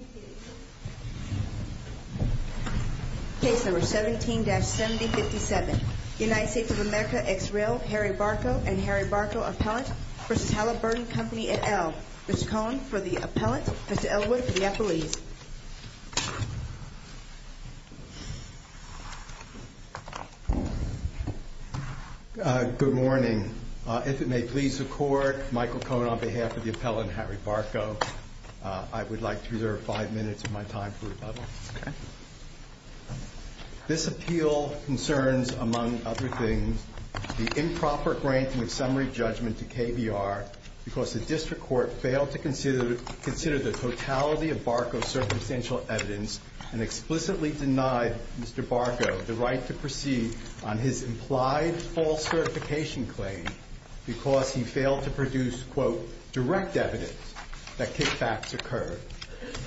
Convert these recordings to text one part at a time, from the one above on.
at L. Mr. Cohn for the appellant, Mr. Ellwood for the appellees. Good morning. If it may please the court, Michael Cohn on behalf of the appellant Harry Halliburton, it is my great pleasure to present Mr. Barko for the appellant, Mr. Ellwood for the appellant, and Mr. Halliburton for the appellant. Mr. Halliburton, you may begin.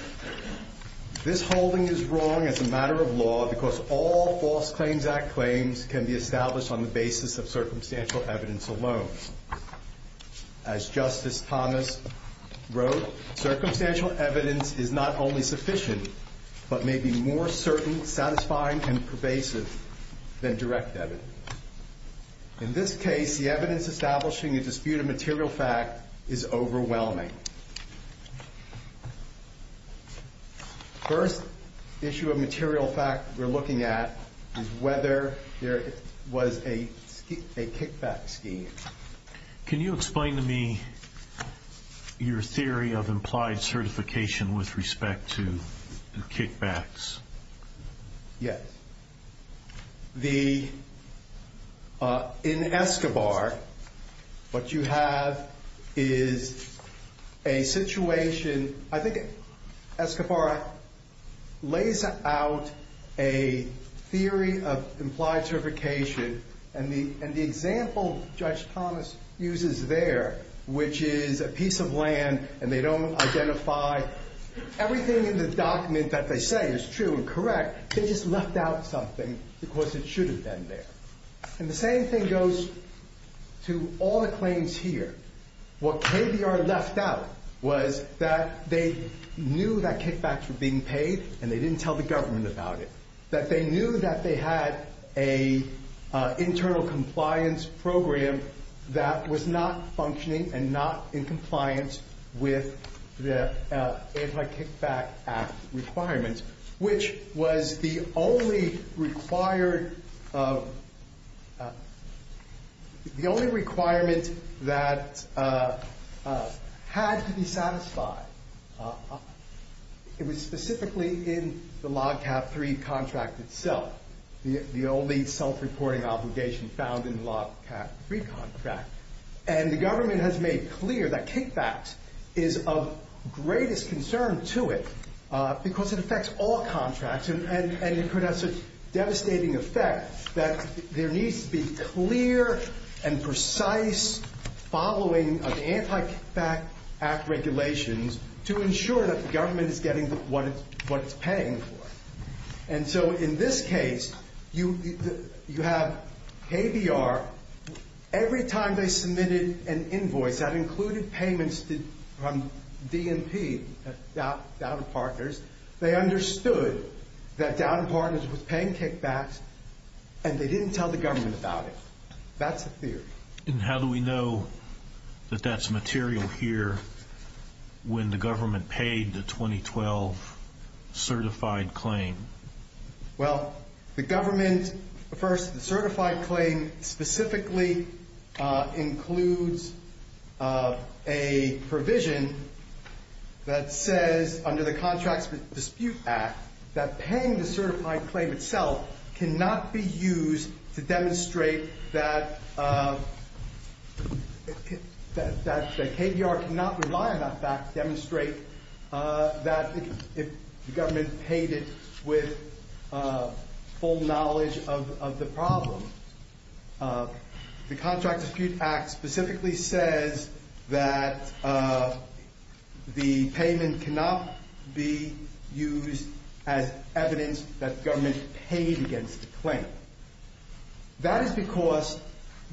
This holding is wrong as a matter of law, because all false claims act claims can be established on the basis of circumstantial evidence alone. As Justice Thomas wrote, circumstantial evidence is not only sufficient, but may be more certain, satisfying, and pervasive than direct evidence. In this case, the evidence establishing a dispute of material fact is First issue of material fact we're looking at is whether there was a kickback scheme. Can you explain to me your theory of implied certification with respect to kickbacks? Yes. In Escobar, what you have is a situation, I think Escobar lays out a theory of implied certification, and the example Judge Thomas uses there, which is a piece of land, and they don't identify everything in the document that they say is true and correct, they just left out something because it shouldn't have been there. And the same thing goes to all the claims here. What KBR left out was that they knew that kickbacks were being paid, and they didn't tell the government about it. That they knew that they had an internal compliance program that was not functioning and not in compliance with the Anti-Kickback Act requirements, which was the only requirement that had to be satisfied. It was specifically in the Log Cap 3 contract itself, the only self-reporting obligation found in the Log Cap 3 contract. And the government has made clear that kickbacks is of greatest concern to it because it affects all contracts, and it could have such a devastating effect that there needs to be clear and precise following of Anti-Kickback Act regulations to ensure that the government is getting what it's paying for. And so in this case, you have KBR, every time they submitted an invoice that included payments from DMP, Dowden Partners, they understood that Dowden Partners was paying kickbacks, and they didn't tell the government about it. That's the theory. And how do we know that that's material here when the government paid the 2012 certified claim? Well, the government, first, the certified claim specifically includes a provision that says under the Contracts Dispute Act that paying the certified claim itself cannot be used to demonstrate that KBR cannot rely on that fact to demonstrate that the government paid it with full knowledge of the problem. The Contracts Dispute Act specifically says that the payment cannot be used as evidence that the government paid against the claim. That is because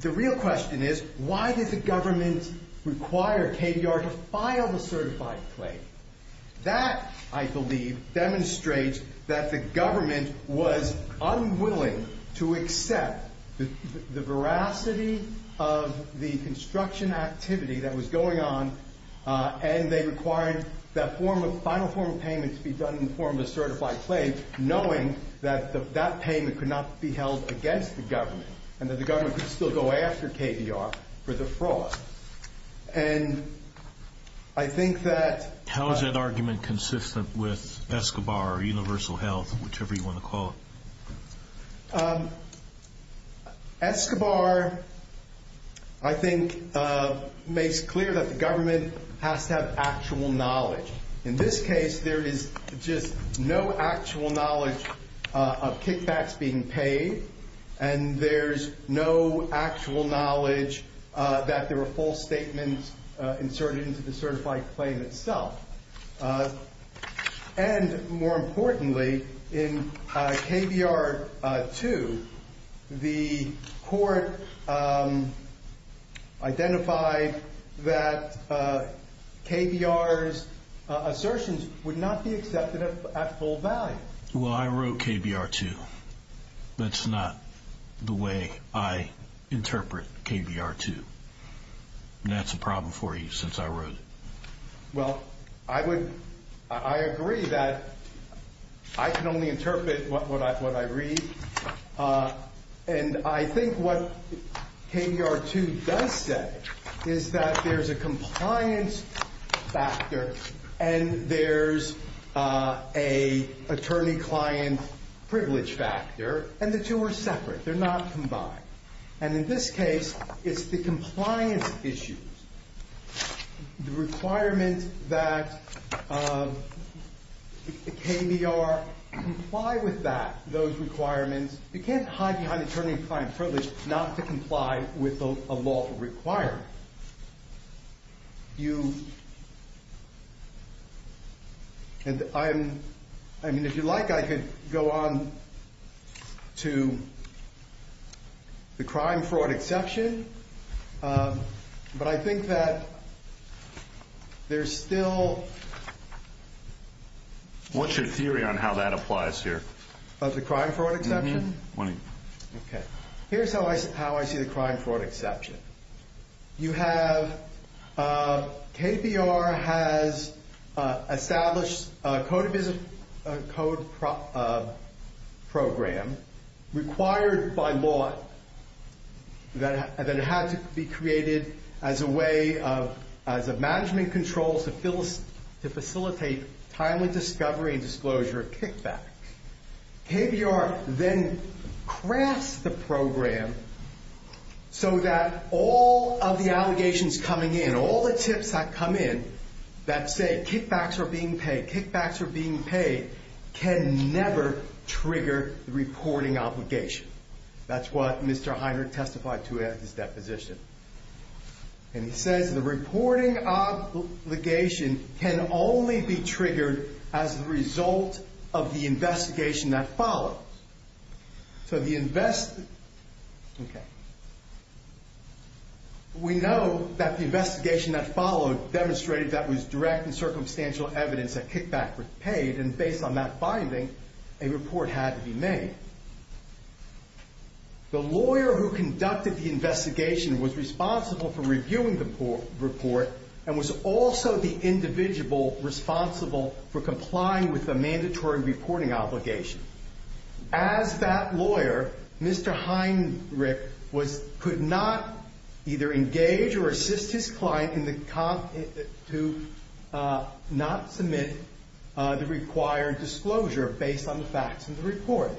the real question is, why did the government require KBR to file the certified claim? That, I believe, demonstrates that the government was unwilling to accept the veracity of the construction activity that was going on, and they required that final form of payment to be done in the form of a certified claim, knowing that that payment could not be held against the government, and that the government could still go after KBR for the fraud. How is that argument consistent with ESCOBAR or Universal Health, whichever you want to call it? ESCOBAR, I think, makes clear that the government has to have actual knowledge. In this case, there is just no actual knowledge of kickbacks being paid, and there's no actual knowledge that there were false statements inserted into the certified claim itself. And more importantly, in KBR 2, the court identified that KBR's assertions would not be accepted at full value. Well, I wrote KBR 2. That's not the way I interpret KBR 2. And that's a problem for you, since I wrote it. Well, I agree that I can only interpret what I read. And I think what KBR 2 does say is that there's a compliance factor, and there's an attorney-client privilege factor, and the two are separate. They're not combined. And in this case, it's the compliance issues, the requirement that KBR comply with that, those requirements. You can't hide behind attorney-client privilege not to comply with a law requirement. If you like, I could go on to the crime-fraud exception. But I think that there's still... What's your theory on how that applies here? About the crime-fraud exception? Mm-hmm. 20. Okay. Here's how I see the crime-fraud exception. You have... KBR has established a code of business program required by law that had to be created as a way of... as a management control to facilitate timely discovery and disclosure of kickbacks. KBR then crafts the program so that all of the allegations coming in, all the tips that come in that say kickbacks are being paid, kickbacks are being paid, can never trigger the reporting obligation. That's what Mr. Heiner testified to at his deposition. And he says the reporting obligation can only be triggered as a result of the investigation that follows. So the invest... Okay. We know that the investigation that followed demonstrated that was direct and circumstantial evidence that kickback was paid. And based on that finding, a report had to be made. The lawyer who conducted the investigation was responsible for reviewing the report and was also the individual responsible for complying with the mandatory reporting obligation. As that lawyer, Mr. Heinrich was... could not either engage or assist his client in comp... to not submit the required disclosure based on the facts in the report.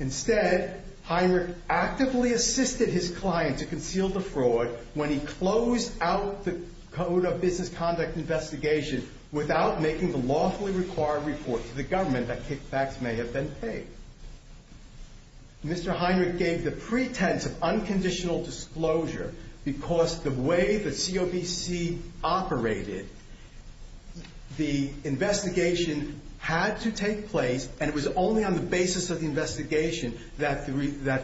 Instead, Heinrich actively assisted his client to conceal the fraud when he closed out the code of business conduct investigation without making the lawfully required report to the government that kickbacks may have been paid. Mr. Heinrich gave the pretense of unconditional disclosure because the way that COBC operated, the investigation had to take place and it was only on the basis of the investigation that the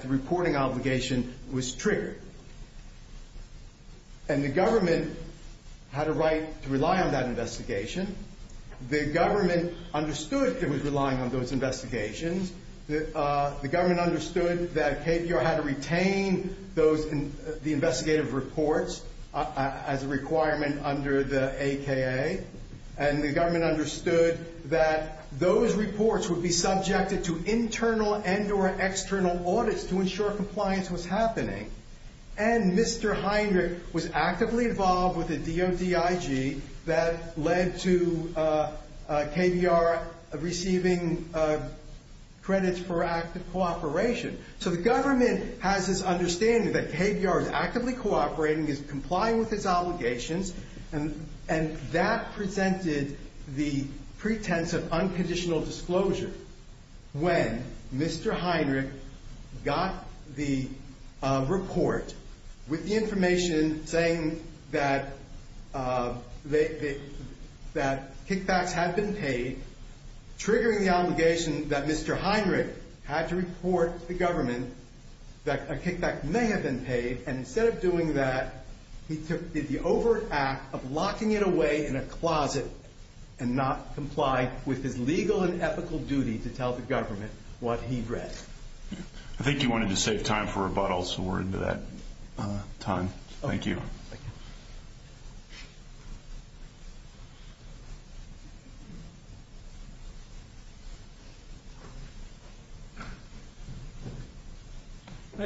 reporting obligation was triggered. And the government had a right to rely on that investigation. The government understood it was relying on those investigations. The government understood that KBR had to retain the investigative reports as a requirement under the AKA. And the government understood that those reports would be subjected to internal and or external audits to ensure compliance was happening. And Mr. Heinrich was actively involved with the DODIG that led to KBR receiving credits for active cooperation. So the government has this understanding that KBR is actively cooperating, is complying with its obligations and that presented the pretense of unconditional disclosure when Mr. Heinrich got the report with the information saying that kickbacks had been paid, triggering the obligation that Mr. Heinrich had to report to the government that a kickback may have been paid. And instead of doing that, he did the overt act of locking it away in a closet and not comply with his legal and ethical duty to tell the government what he'd read. I think you wanted to save time for rebuttals, so we're into that time. Thank you.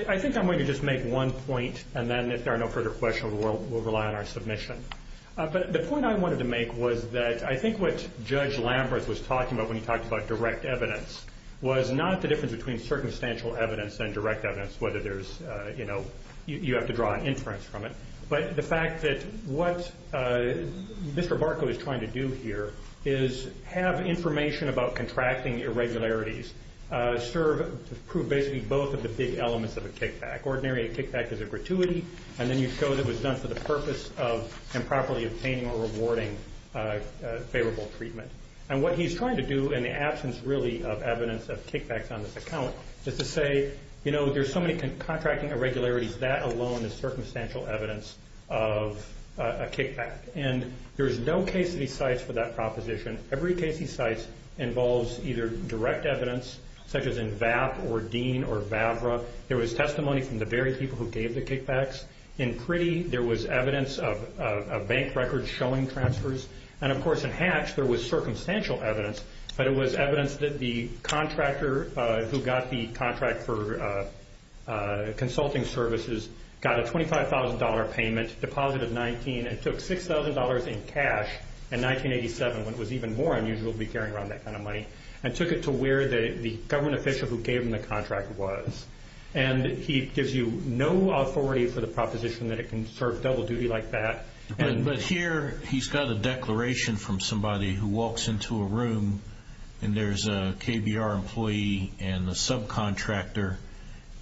I think I'm going to just make one point and then if there are no further questions, we'll rely on our submission. But the point I wanted to make was that I think what Judge Lambert was talking about when he talked about direct evidence was not the difference between circumstantial evidence and direct evidence, whether there's, you know, you have to draw inference from it, but the fact that what Mr. Barkow is trying to do here is have information about contracting irregularities prove basically both of the big elements of a kickback. Ordinary a kickback is a gratuity and then you show that it was done for the purpose of improperly obtaining a rewarding favorable treatment. And what he's trying to do in the absence, really, of evidence of kickbacks on this account is to say, you know, there's so many contracting irregularities, that alone is circumstantial evidence of a kickback. And there's no case of these sites for that proposition. Every case of these sites involves either direct evidence, such as in VAP or DEAN or VAVRA. There was testimony from the very people who And, of course, in Hatch there was circumstantial evidence, but it was evidence that the contractor who got the contract for consulting services got a $25,000 payment, deposited $19,000 and took $6,000 in cash in 1987, when it was even more unusual to be carrying around that kind of money, and took it to where the government official who gave him the contract was. And he gives you no authority for the proposition that it can serve double duty like that. But here he's got a declaration from somebody who walks into a room and there's a KBR employee and the subcontractor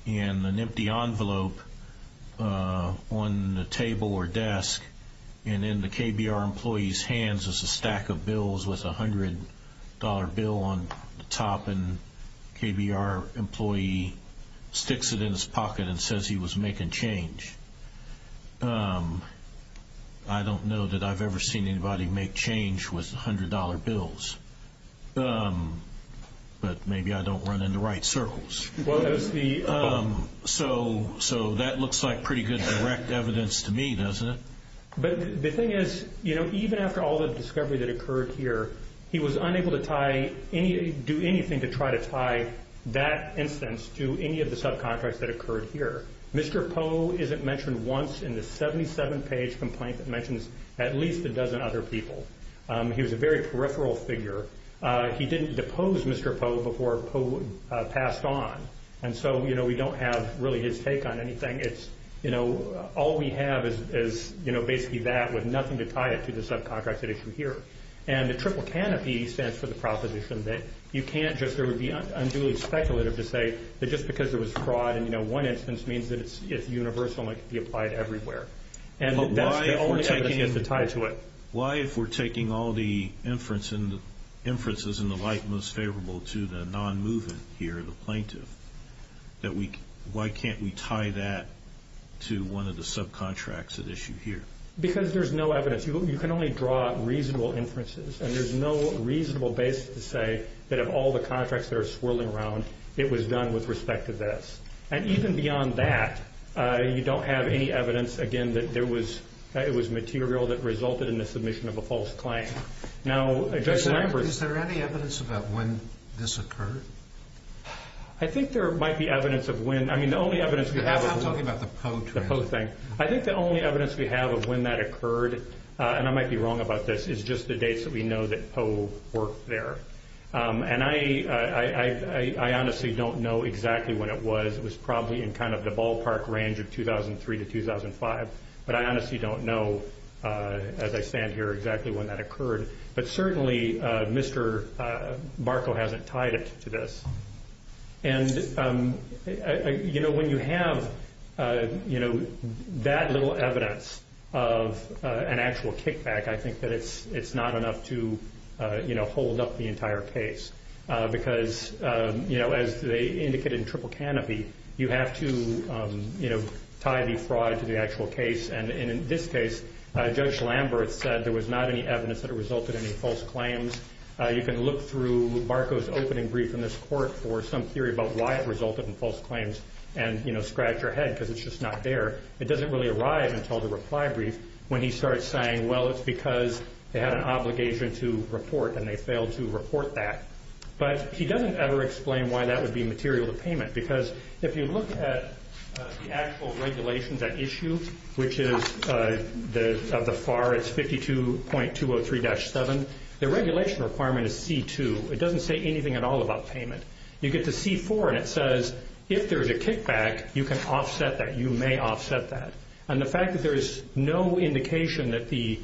and an empty envelope on the table or desk. And in the KBR employee's hands is a stack of bills with a $100 bill on the top. And KBR employee sticks it in his pocket and says he was making change. I don't know that I've ever seen anybody make change with $100 bills. But maybe I don't run into right circles. So that looks like pretty good direct evidence to me, doesn't it? But the thing is, you know, even after all the discovery that occurred here, he was unable to do anything to try to tie that instance to any of the subcontracts that occurred here. Mr. Poe isn't mentioned once in the 77-page complaint that mentions at least a dozen other people. He was a very peripheral figure. He didn't depose Mr. Poe before Poe passed on. And so, you know, we don't have really his take on anything. All we have is basically that with nothing to tie it to the subcontracts at issue here. And the triple canopy stands for the proposition that you can't just, it would be unduly speculative to say that just because there was fraud in one instance means that it's universal and it can be applied everywhere. And that's the only evidence that has to tie to it. Why, if we're taking all the inferences in the light most favorable to the non-moving here, the plaintiff, why can't we tie that to one of the subcontracts at issue here? Because there's no evidence. You can only draw reasonable inferences. And there's no reasonable basis to say that of all the contracts that are swirling around, it was done with respect to this. And even beyond that, you don't have any evidence, again, that it was material that resulted in the submission of a false claim. Is there any evidence about when this occurred? I think there might be evidence of when... I'm talking about the Poe thing. I think the only evidence we have of when that occurred, and I might be wrong about this, is just the dates that we know that Poe worked there. And I honestly don't know exactly when it was. It was probably in kind of the ballpark range of 2003 to 2005. But I honestly don't know, as I stand here, exactly when that occurred. But certainly Mr. Barco hasn't tied it to this. And when you have that little evidence of an actual kickback, I think that it's not enough to hold up the entire case. Because as they indicated in Triple Canopy, you have to tie the fraud to the actual case. And in this case, Judge Lamberth said there was not any evidence that it resulted in any false claims. You can look through Barco's opening brief in this court for some theory about why it resulted in false claims and scratch your head, because it's just not there. It doesn't really arrive until the reply brief, when he starts saying, well, it's because they had an obligation to report, and they failed to report that. But he doesn't ever explain why that would be material to payment. Because if you look at the actual regulations at issue, which is of the FAR, it's 52.203-7. The regulation requirement is C2. It doesn't say anything at all about payment. You get to C4, and it says, if there's a kickback, you can offset that. You may offset that. And the fact that there is no indication that the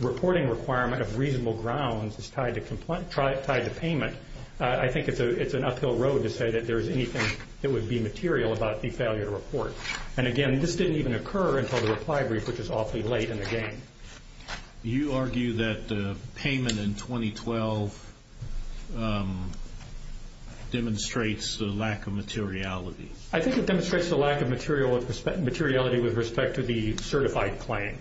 reporting requirement of reasonable grounds is tied to payment, I think it's an uphill road to say that there is anything that would be material about the failure to report. And again, this didn't even occur until the reply brief, which is awfully late in the game. You argue that the payment in 2012 demonstrates the lack of materiality. I think it demonstrates the lack of materiality with respect to the certified claim.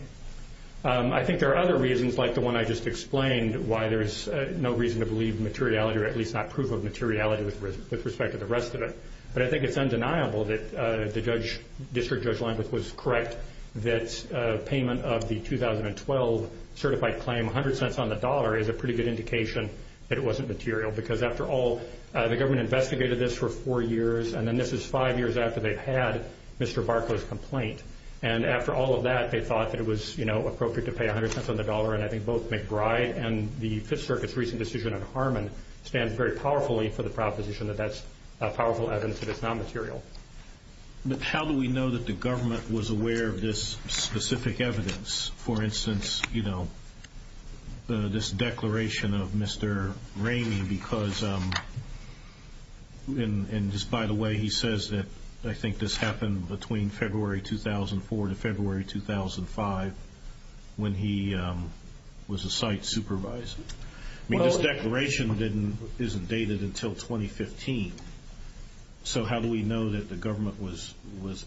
I think there are other reasons, like the one I just explained, why there is no reason to believe materiality, or at least not proof of materiality with respect to the rest of it. But I think it's undeniable that the District Judge Leimbach was correct that payment of the 2012 certified claim, 100 cents on the dollar, is a pretty good indication that it wasn't material. Because after all, the government investigated this for four years, and then this is five years after they've had Mr. Barco's complaint. And after all of that, they thought that it was appropriate to pay 100 cents on the dollar, and I think both McBride and the Fifth Circuit's recent decision on Harmon stand very powerfully for the proposition that that's powerful evidence that it's not material. But how do we know that the government was aware of this specific evidence? For instance, this declaration of Mr. Ramey, because, and just by the way, he says that I think this happened between February 2004 to February 2005 when he was a site supervisor. I mean, this declaration isn't dated until 2015. So how do we know that the government was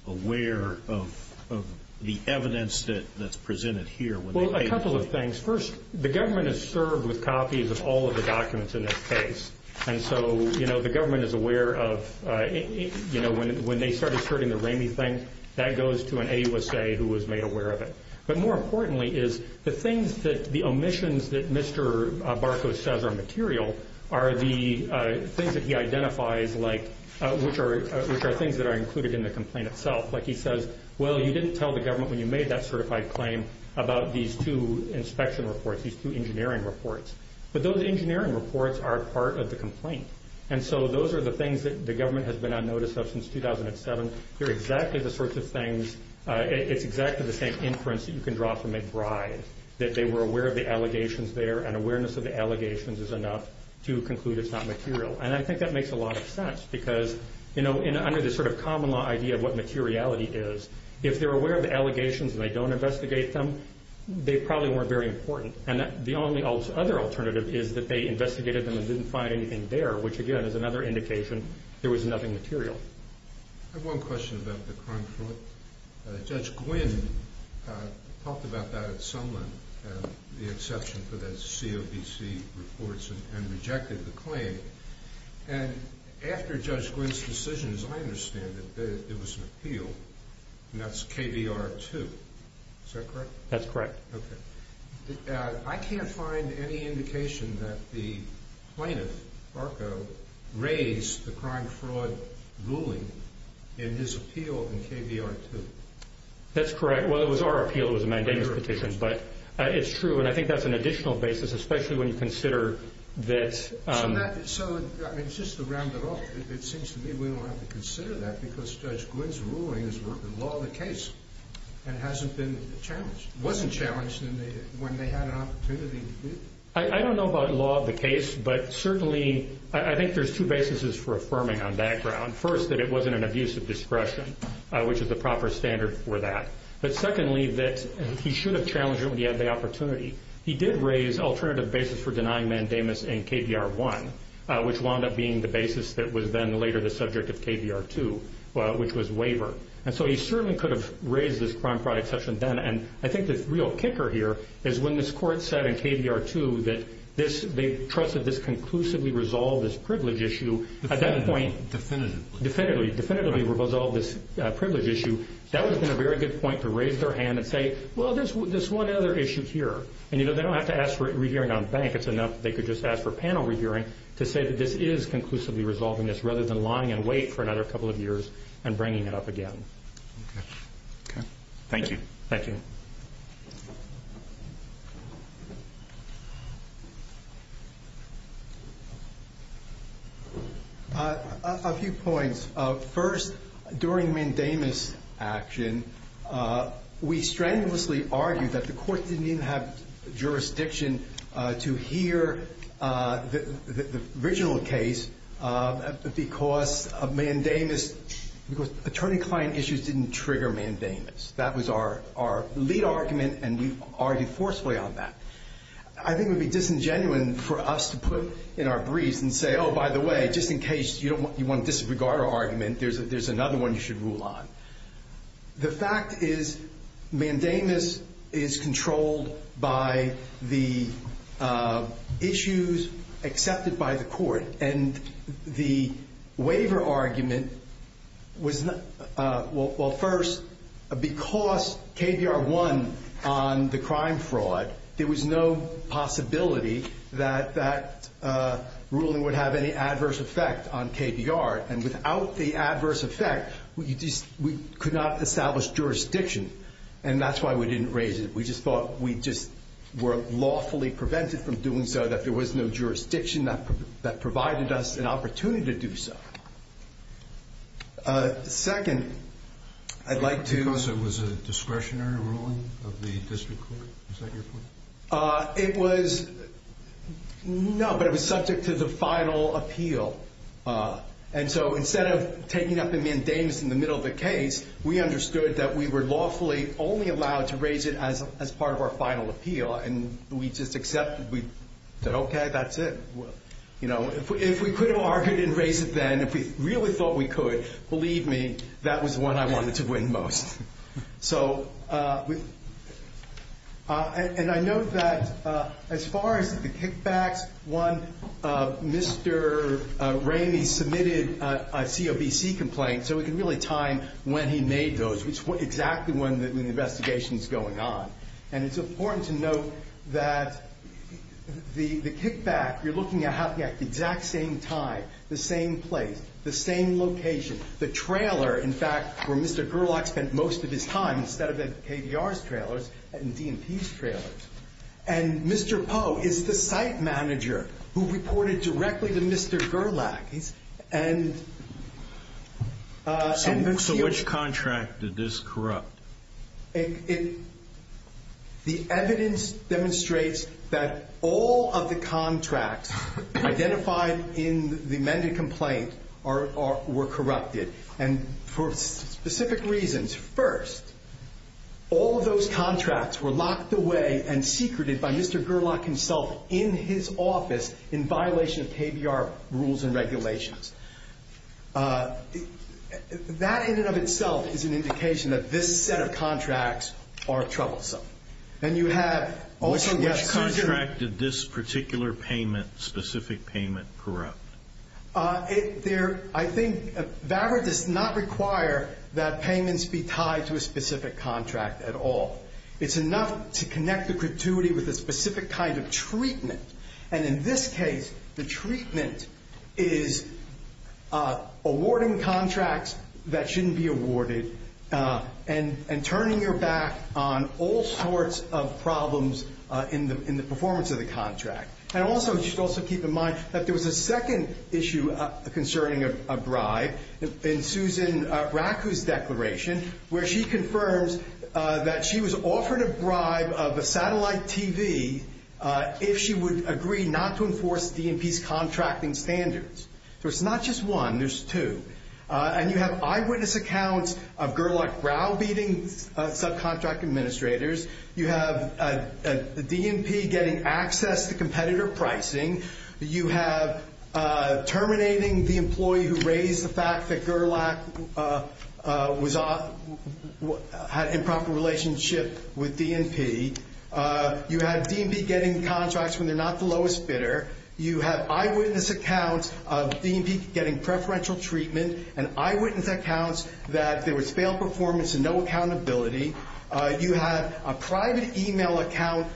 aware of the evidence that's presented here? Well, a couple of things. First, the government is served with copies of all of the documents in this case. And so the government is aware of when they started sorting the Ramey thing, that goes to an AUSA who was made aware of it. But more importantly is the things that the omissions that Mr. Barco says are material are the things that he identifies, which are things that are included in the complaint itself. Like he says, well, you didn't tell the government when you made that certified claim about these two inspection reports, these two engineering reports. But those engineering reports are part of the complaint. And so those are the things that the government has been on notice of since 2007. They're exactly the sorts of things. It's exactly the same inference that you can draw from a bribe, that they were aware of the allegations there, and awareness of the allegations is enough to conclude it's not material. And I think that makes a lot of sense because, you know, under this sort of common law idea of what materiality is, if they're aware of the allegations and they don't investigate them, they probably weren't very important. And the only other alternative is that they investigated them and didn't find anything there, which, again, is another indication there was nothing material. I have one question about the crime fraud. Judge Gwynne talked about that at some length, the exception for the COBC reports and rejected the claim. And after Judge Gwynne's decision, as I understand it, there was an appeal, and that's KBR 2. Is that correct? That's correct. Okay. I can't find any indication that the plaintiff, Barco, raised the crime fraud ruling in his appeal in KBR 2. That's correct. Well, it was our appeal. It was a mandamus petition. But it's true, and I think that's an additional basis, especially when you consider that— So that—so, I mean, just to round it off, it seems to me we don't have to consider that because Judge Gwynne's ruling is law of the case and hasn't been challenged—wasn't challenged when they had an opportunity. I don't know about law of the case, but certainly I think there's two basis for affirming on that ground. First, that it wasn't an abuse of discretion, which is the proper standard for that. But secondly, that he should have challenged it when he had the opportunity. He did raise alternative basis for denying mandamus in KBR 1, which wound up being the basis that was then later the subject of KBR 2, which was waiver. And so he certainly could have raised this crime fraud exception then, and I think the real kicker here is when this court said in KBR 2 that they trusted this conclusively resolved as privilege issue— Definitely. At that point— Definitively. Definitely. Definitively resolved this privilege issue. That would have been a very good point to raise their hand and say, well, there's one other issue here. And, you know, they don't have to ask for a re-hearing on bank. It's enough that they could just ask for panel re-hearing to say that this is conclusively resolving this rather than lying in wait for another couple of years and bringing it up again. Okay. Okay. Thank you. Thank you. A few points. First, during mandamus action, we strenuously argued that the court didn't even have jurisdiction to hear the original case because of mandamus— because attorney-client issues didn't trigger mandamus. That was our lead argument, and we argued forcefully on that. I think it would be disingenuine for us to put in our briefs and say, oh, by the way, just in case you want to disregard our argument, there's another one you should rule on. The fact is mandamus is controlled by the issues accepted by the court, and the waiver argument was not— well, first, because KBR won on the crime fraud, there was no possibility that that ruling would have any adverse effect on KBR. And without the adverse effect, we could not establish jurisdiction, and that's why we didn't raise it. We just thought we just were lawfully prevented from doing so, that there was no jurisdiction that provided us an opportunity to do so. Second, I'd like to— Because it was a discretionary ruling of the district court? Is that your point? It was—no, but it was subject to the final appeal. And so instead of taking up a mandamus in the middle of the case, we understood that we were lawfully only allowed to raise it as part of our final appeal, and we just accepted. We said, okay, that's it. If we could have argued and raised it then, if we really thought we could, believe me, that was the one I wanted to win most. So—and I note that as far as the kickbacks, one, Mr. Ramey submitted a COBC complaint, so we can really time when he made those, which is exactly when the investigation is going on. And it's important to note that the kickback, you're looking at the exact same time, the same place, the same location. The trailer, in fact, where Mr. Gerlach spent most of his time, instead of at KVR's trailers and DNP's trailers. And Mr. Poe is the site manager who reported directly to Mr. Gerlach. And— So which contract did this corrupt? It—the evidence demonstrates that all of the contracts identified in the amended complaint were corrupted. And for specific reasons, first, all of those contracts were locked away and secreted by Mr. Gerlach himself in his office in violation of KVR rules and regulations. That in and of itself is an indication that this set of contracts are troublesome. And you have also— Which contract did this particular payment, specific payment, corrupt? There—I think VAVR does not require that payments be tied to a specific contract at all. It's enough to connect the creativity with a specific kind of treatment. And in this case, the treatment is awarding contracts that shouldn't be awarded and turning your back on all sorts of problems in the performance of the contract. And also, you should also keep in mind that there was a second issue concerning a bribe in Susan Raku's declaration, where she confirms that she was offered a bribe of a satellite TV if she would agree not to enforce DNP's contracting standards. So it's not just one, there's two. And you have eyewitness accounts of Gerlach browbeating subcontract administrators. You have DNP getting access to competitor pricing. You have terminating the employee who raised the fact that Gerlach had an improper relationship with DNP. You have DNP getting contracts when they're not the lowest bidder. You have eyewitness accounts of DNP getting preferential treatment and eyewitness accounts that there was failed performance and no accountability. You have private email account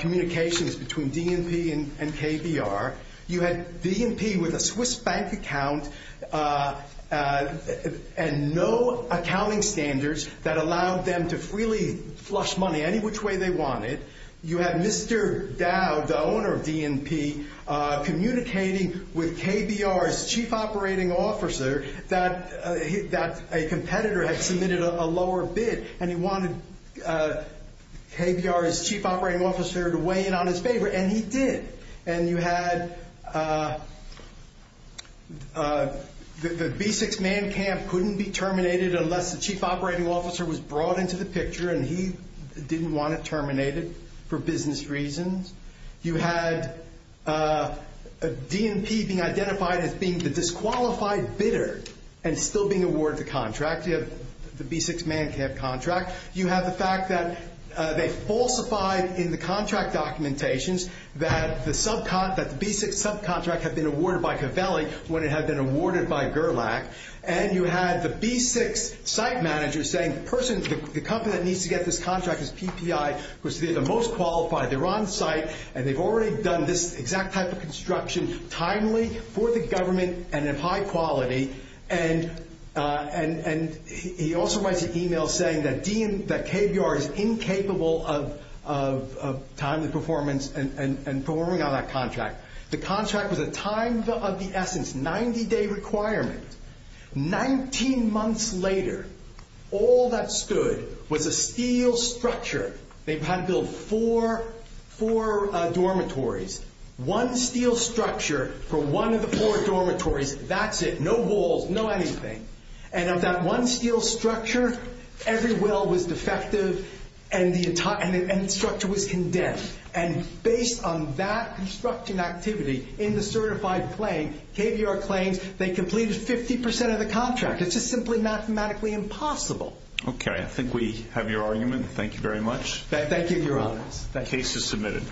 communications between DNP and KBR. You had DNP with a Swiss bank account and no accounting standards that allowed them to freely flush money any which way they wanted. You have Mr. Dowd, the owner of DNP, communicating with KBR's chief operating officer that a competitor had submitted a lower bid and he wanted KBR's chief operating officer to weigh in on his favor, and he did. And you had the B6 man camp couldn't be terminated unless the chief operating officer was brought into the picture and he didn't want it terminated for business reasons. You had DNP being identified as being the disqualified bidder and still being awarded the contract. You have the B6 man camp contract. You have the fact that they falsified in the contract documentations that the B6 subcontract had been awarded by Covelli when it had been awarded by Gerlach. And you had the B6 site manager saying the company that needs to get this contract is PPI because they're the most qualified, they're on site, and they've already done this exact type of construction timely, for the government, and of high quality. And he also writes an email saying that KBR is incapable of timely performance and performing on that contract. The contract was a time of the essence, 90-day requirement. Nineteen months later, all that stood was a steel structure. They had to build four dormitories. One steel structure for one of the four dormitories, that's it. No walls, no anything. And of that one steel structure, every well was defective and the structure was condemned. And based on that construction activity in the certified claim, KBR claims they completed 50% of the contract. It's just simply mathematically impossible. Okay, I think we have your argument. Thank you very much. Thank you, Your Honor. The case is submitted.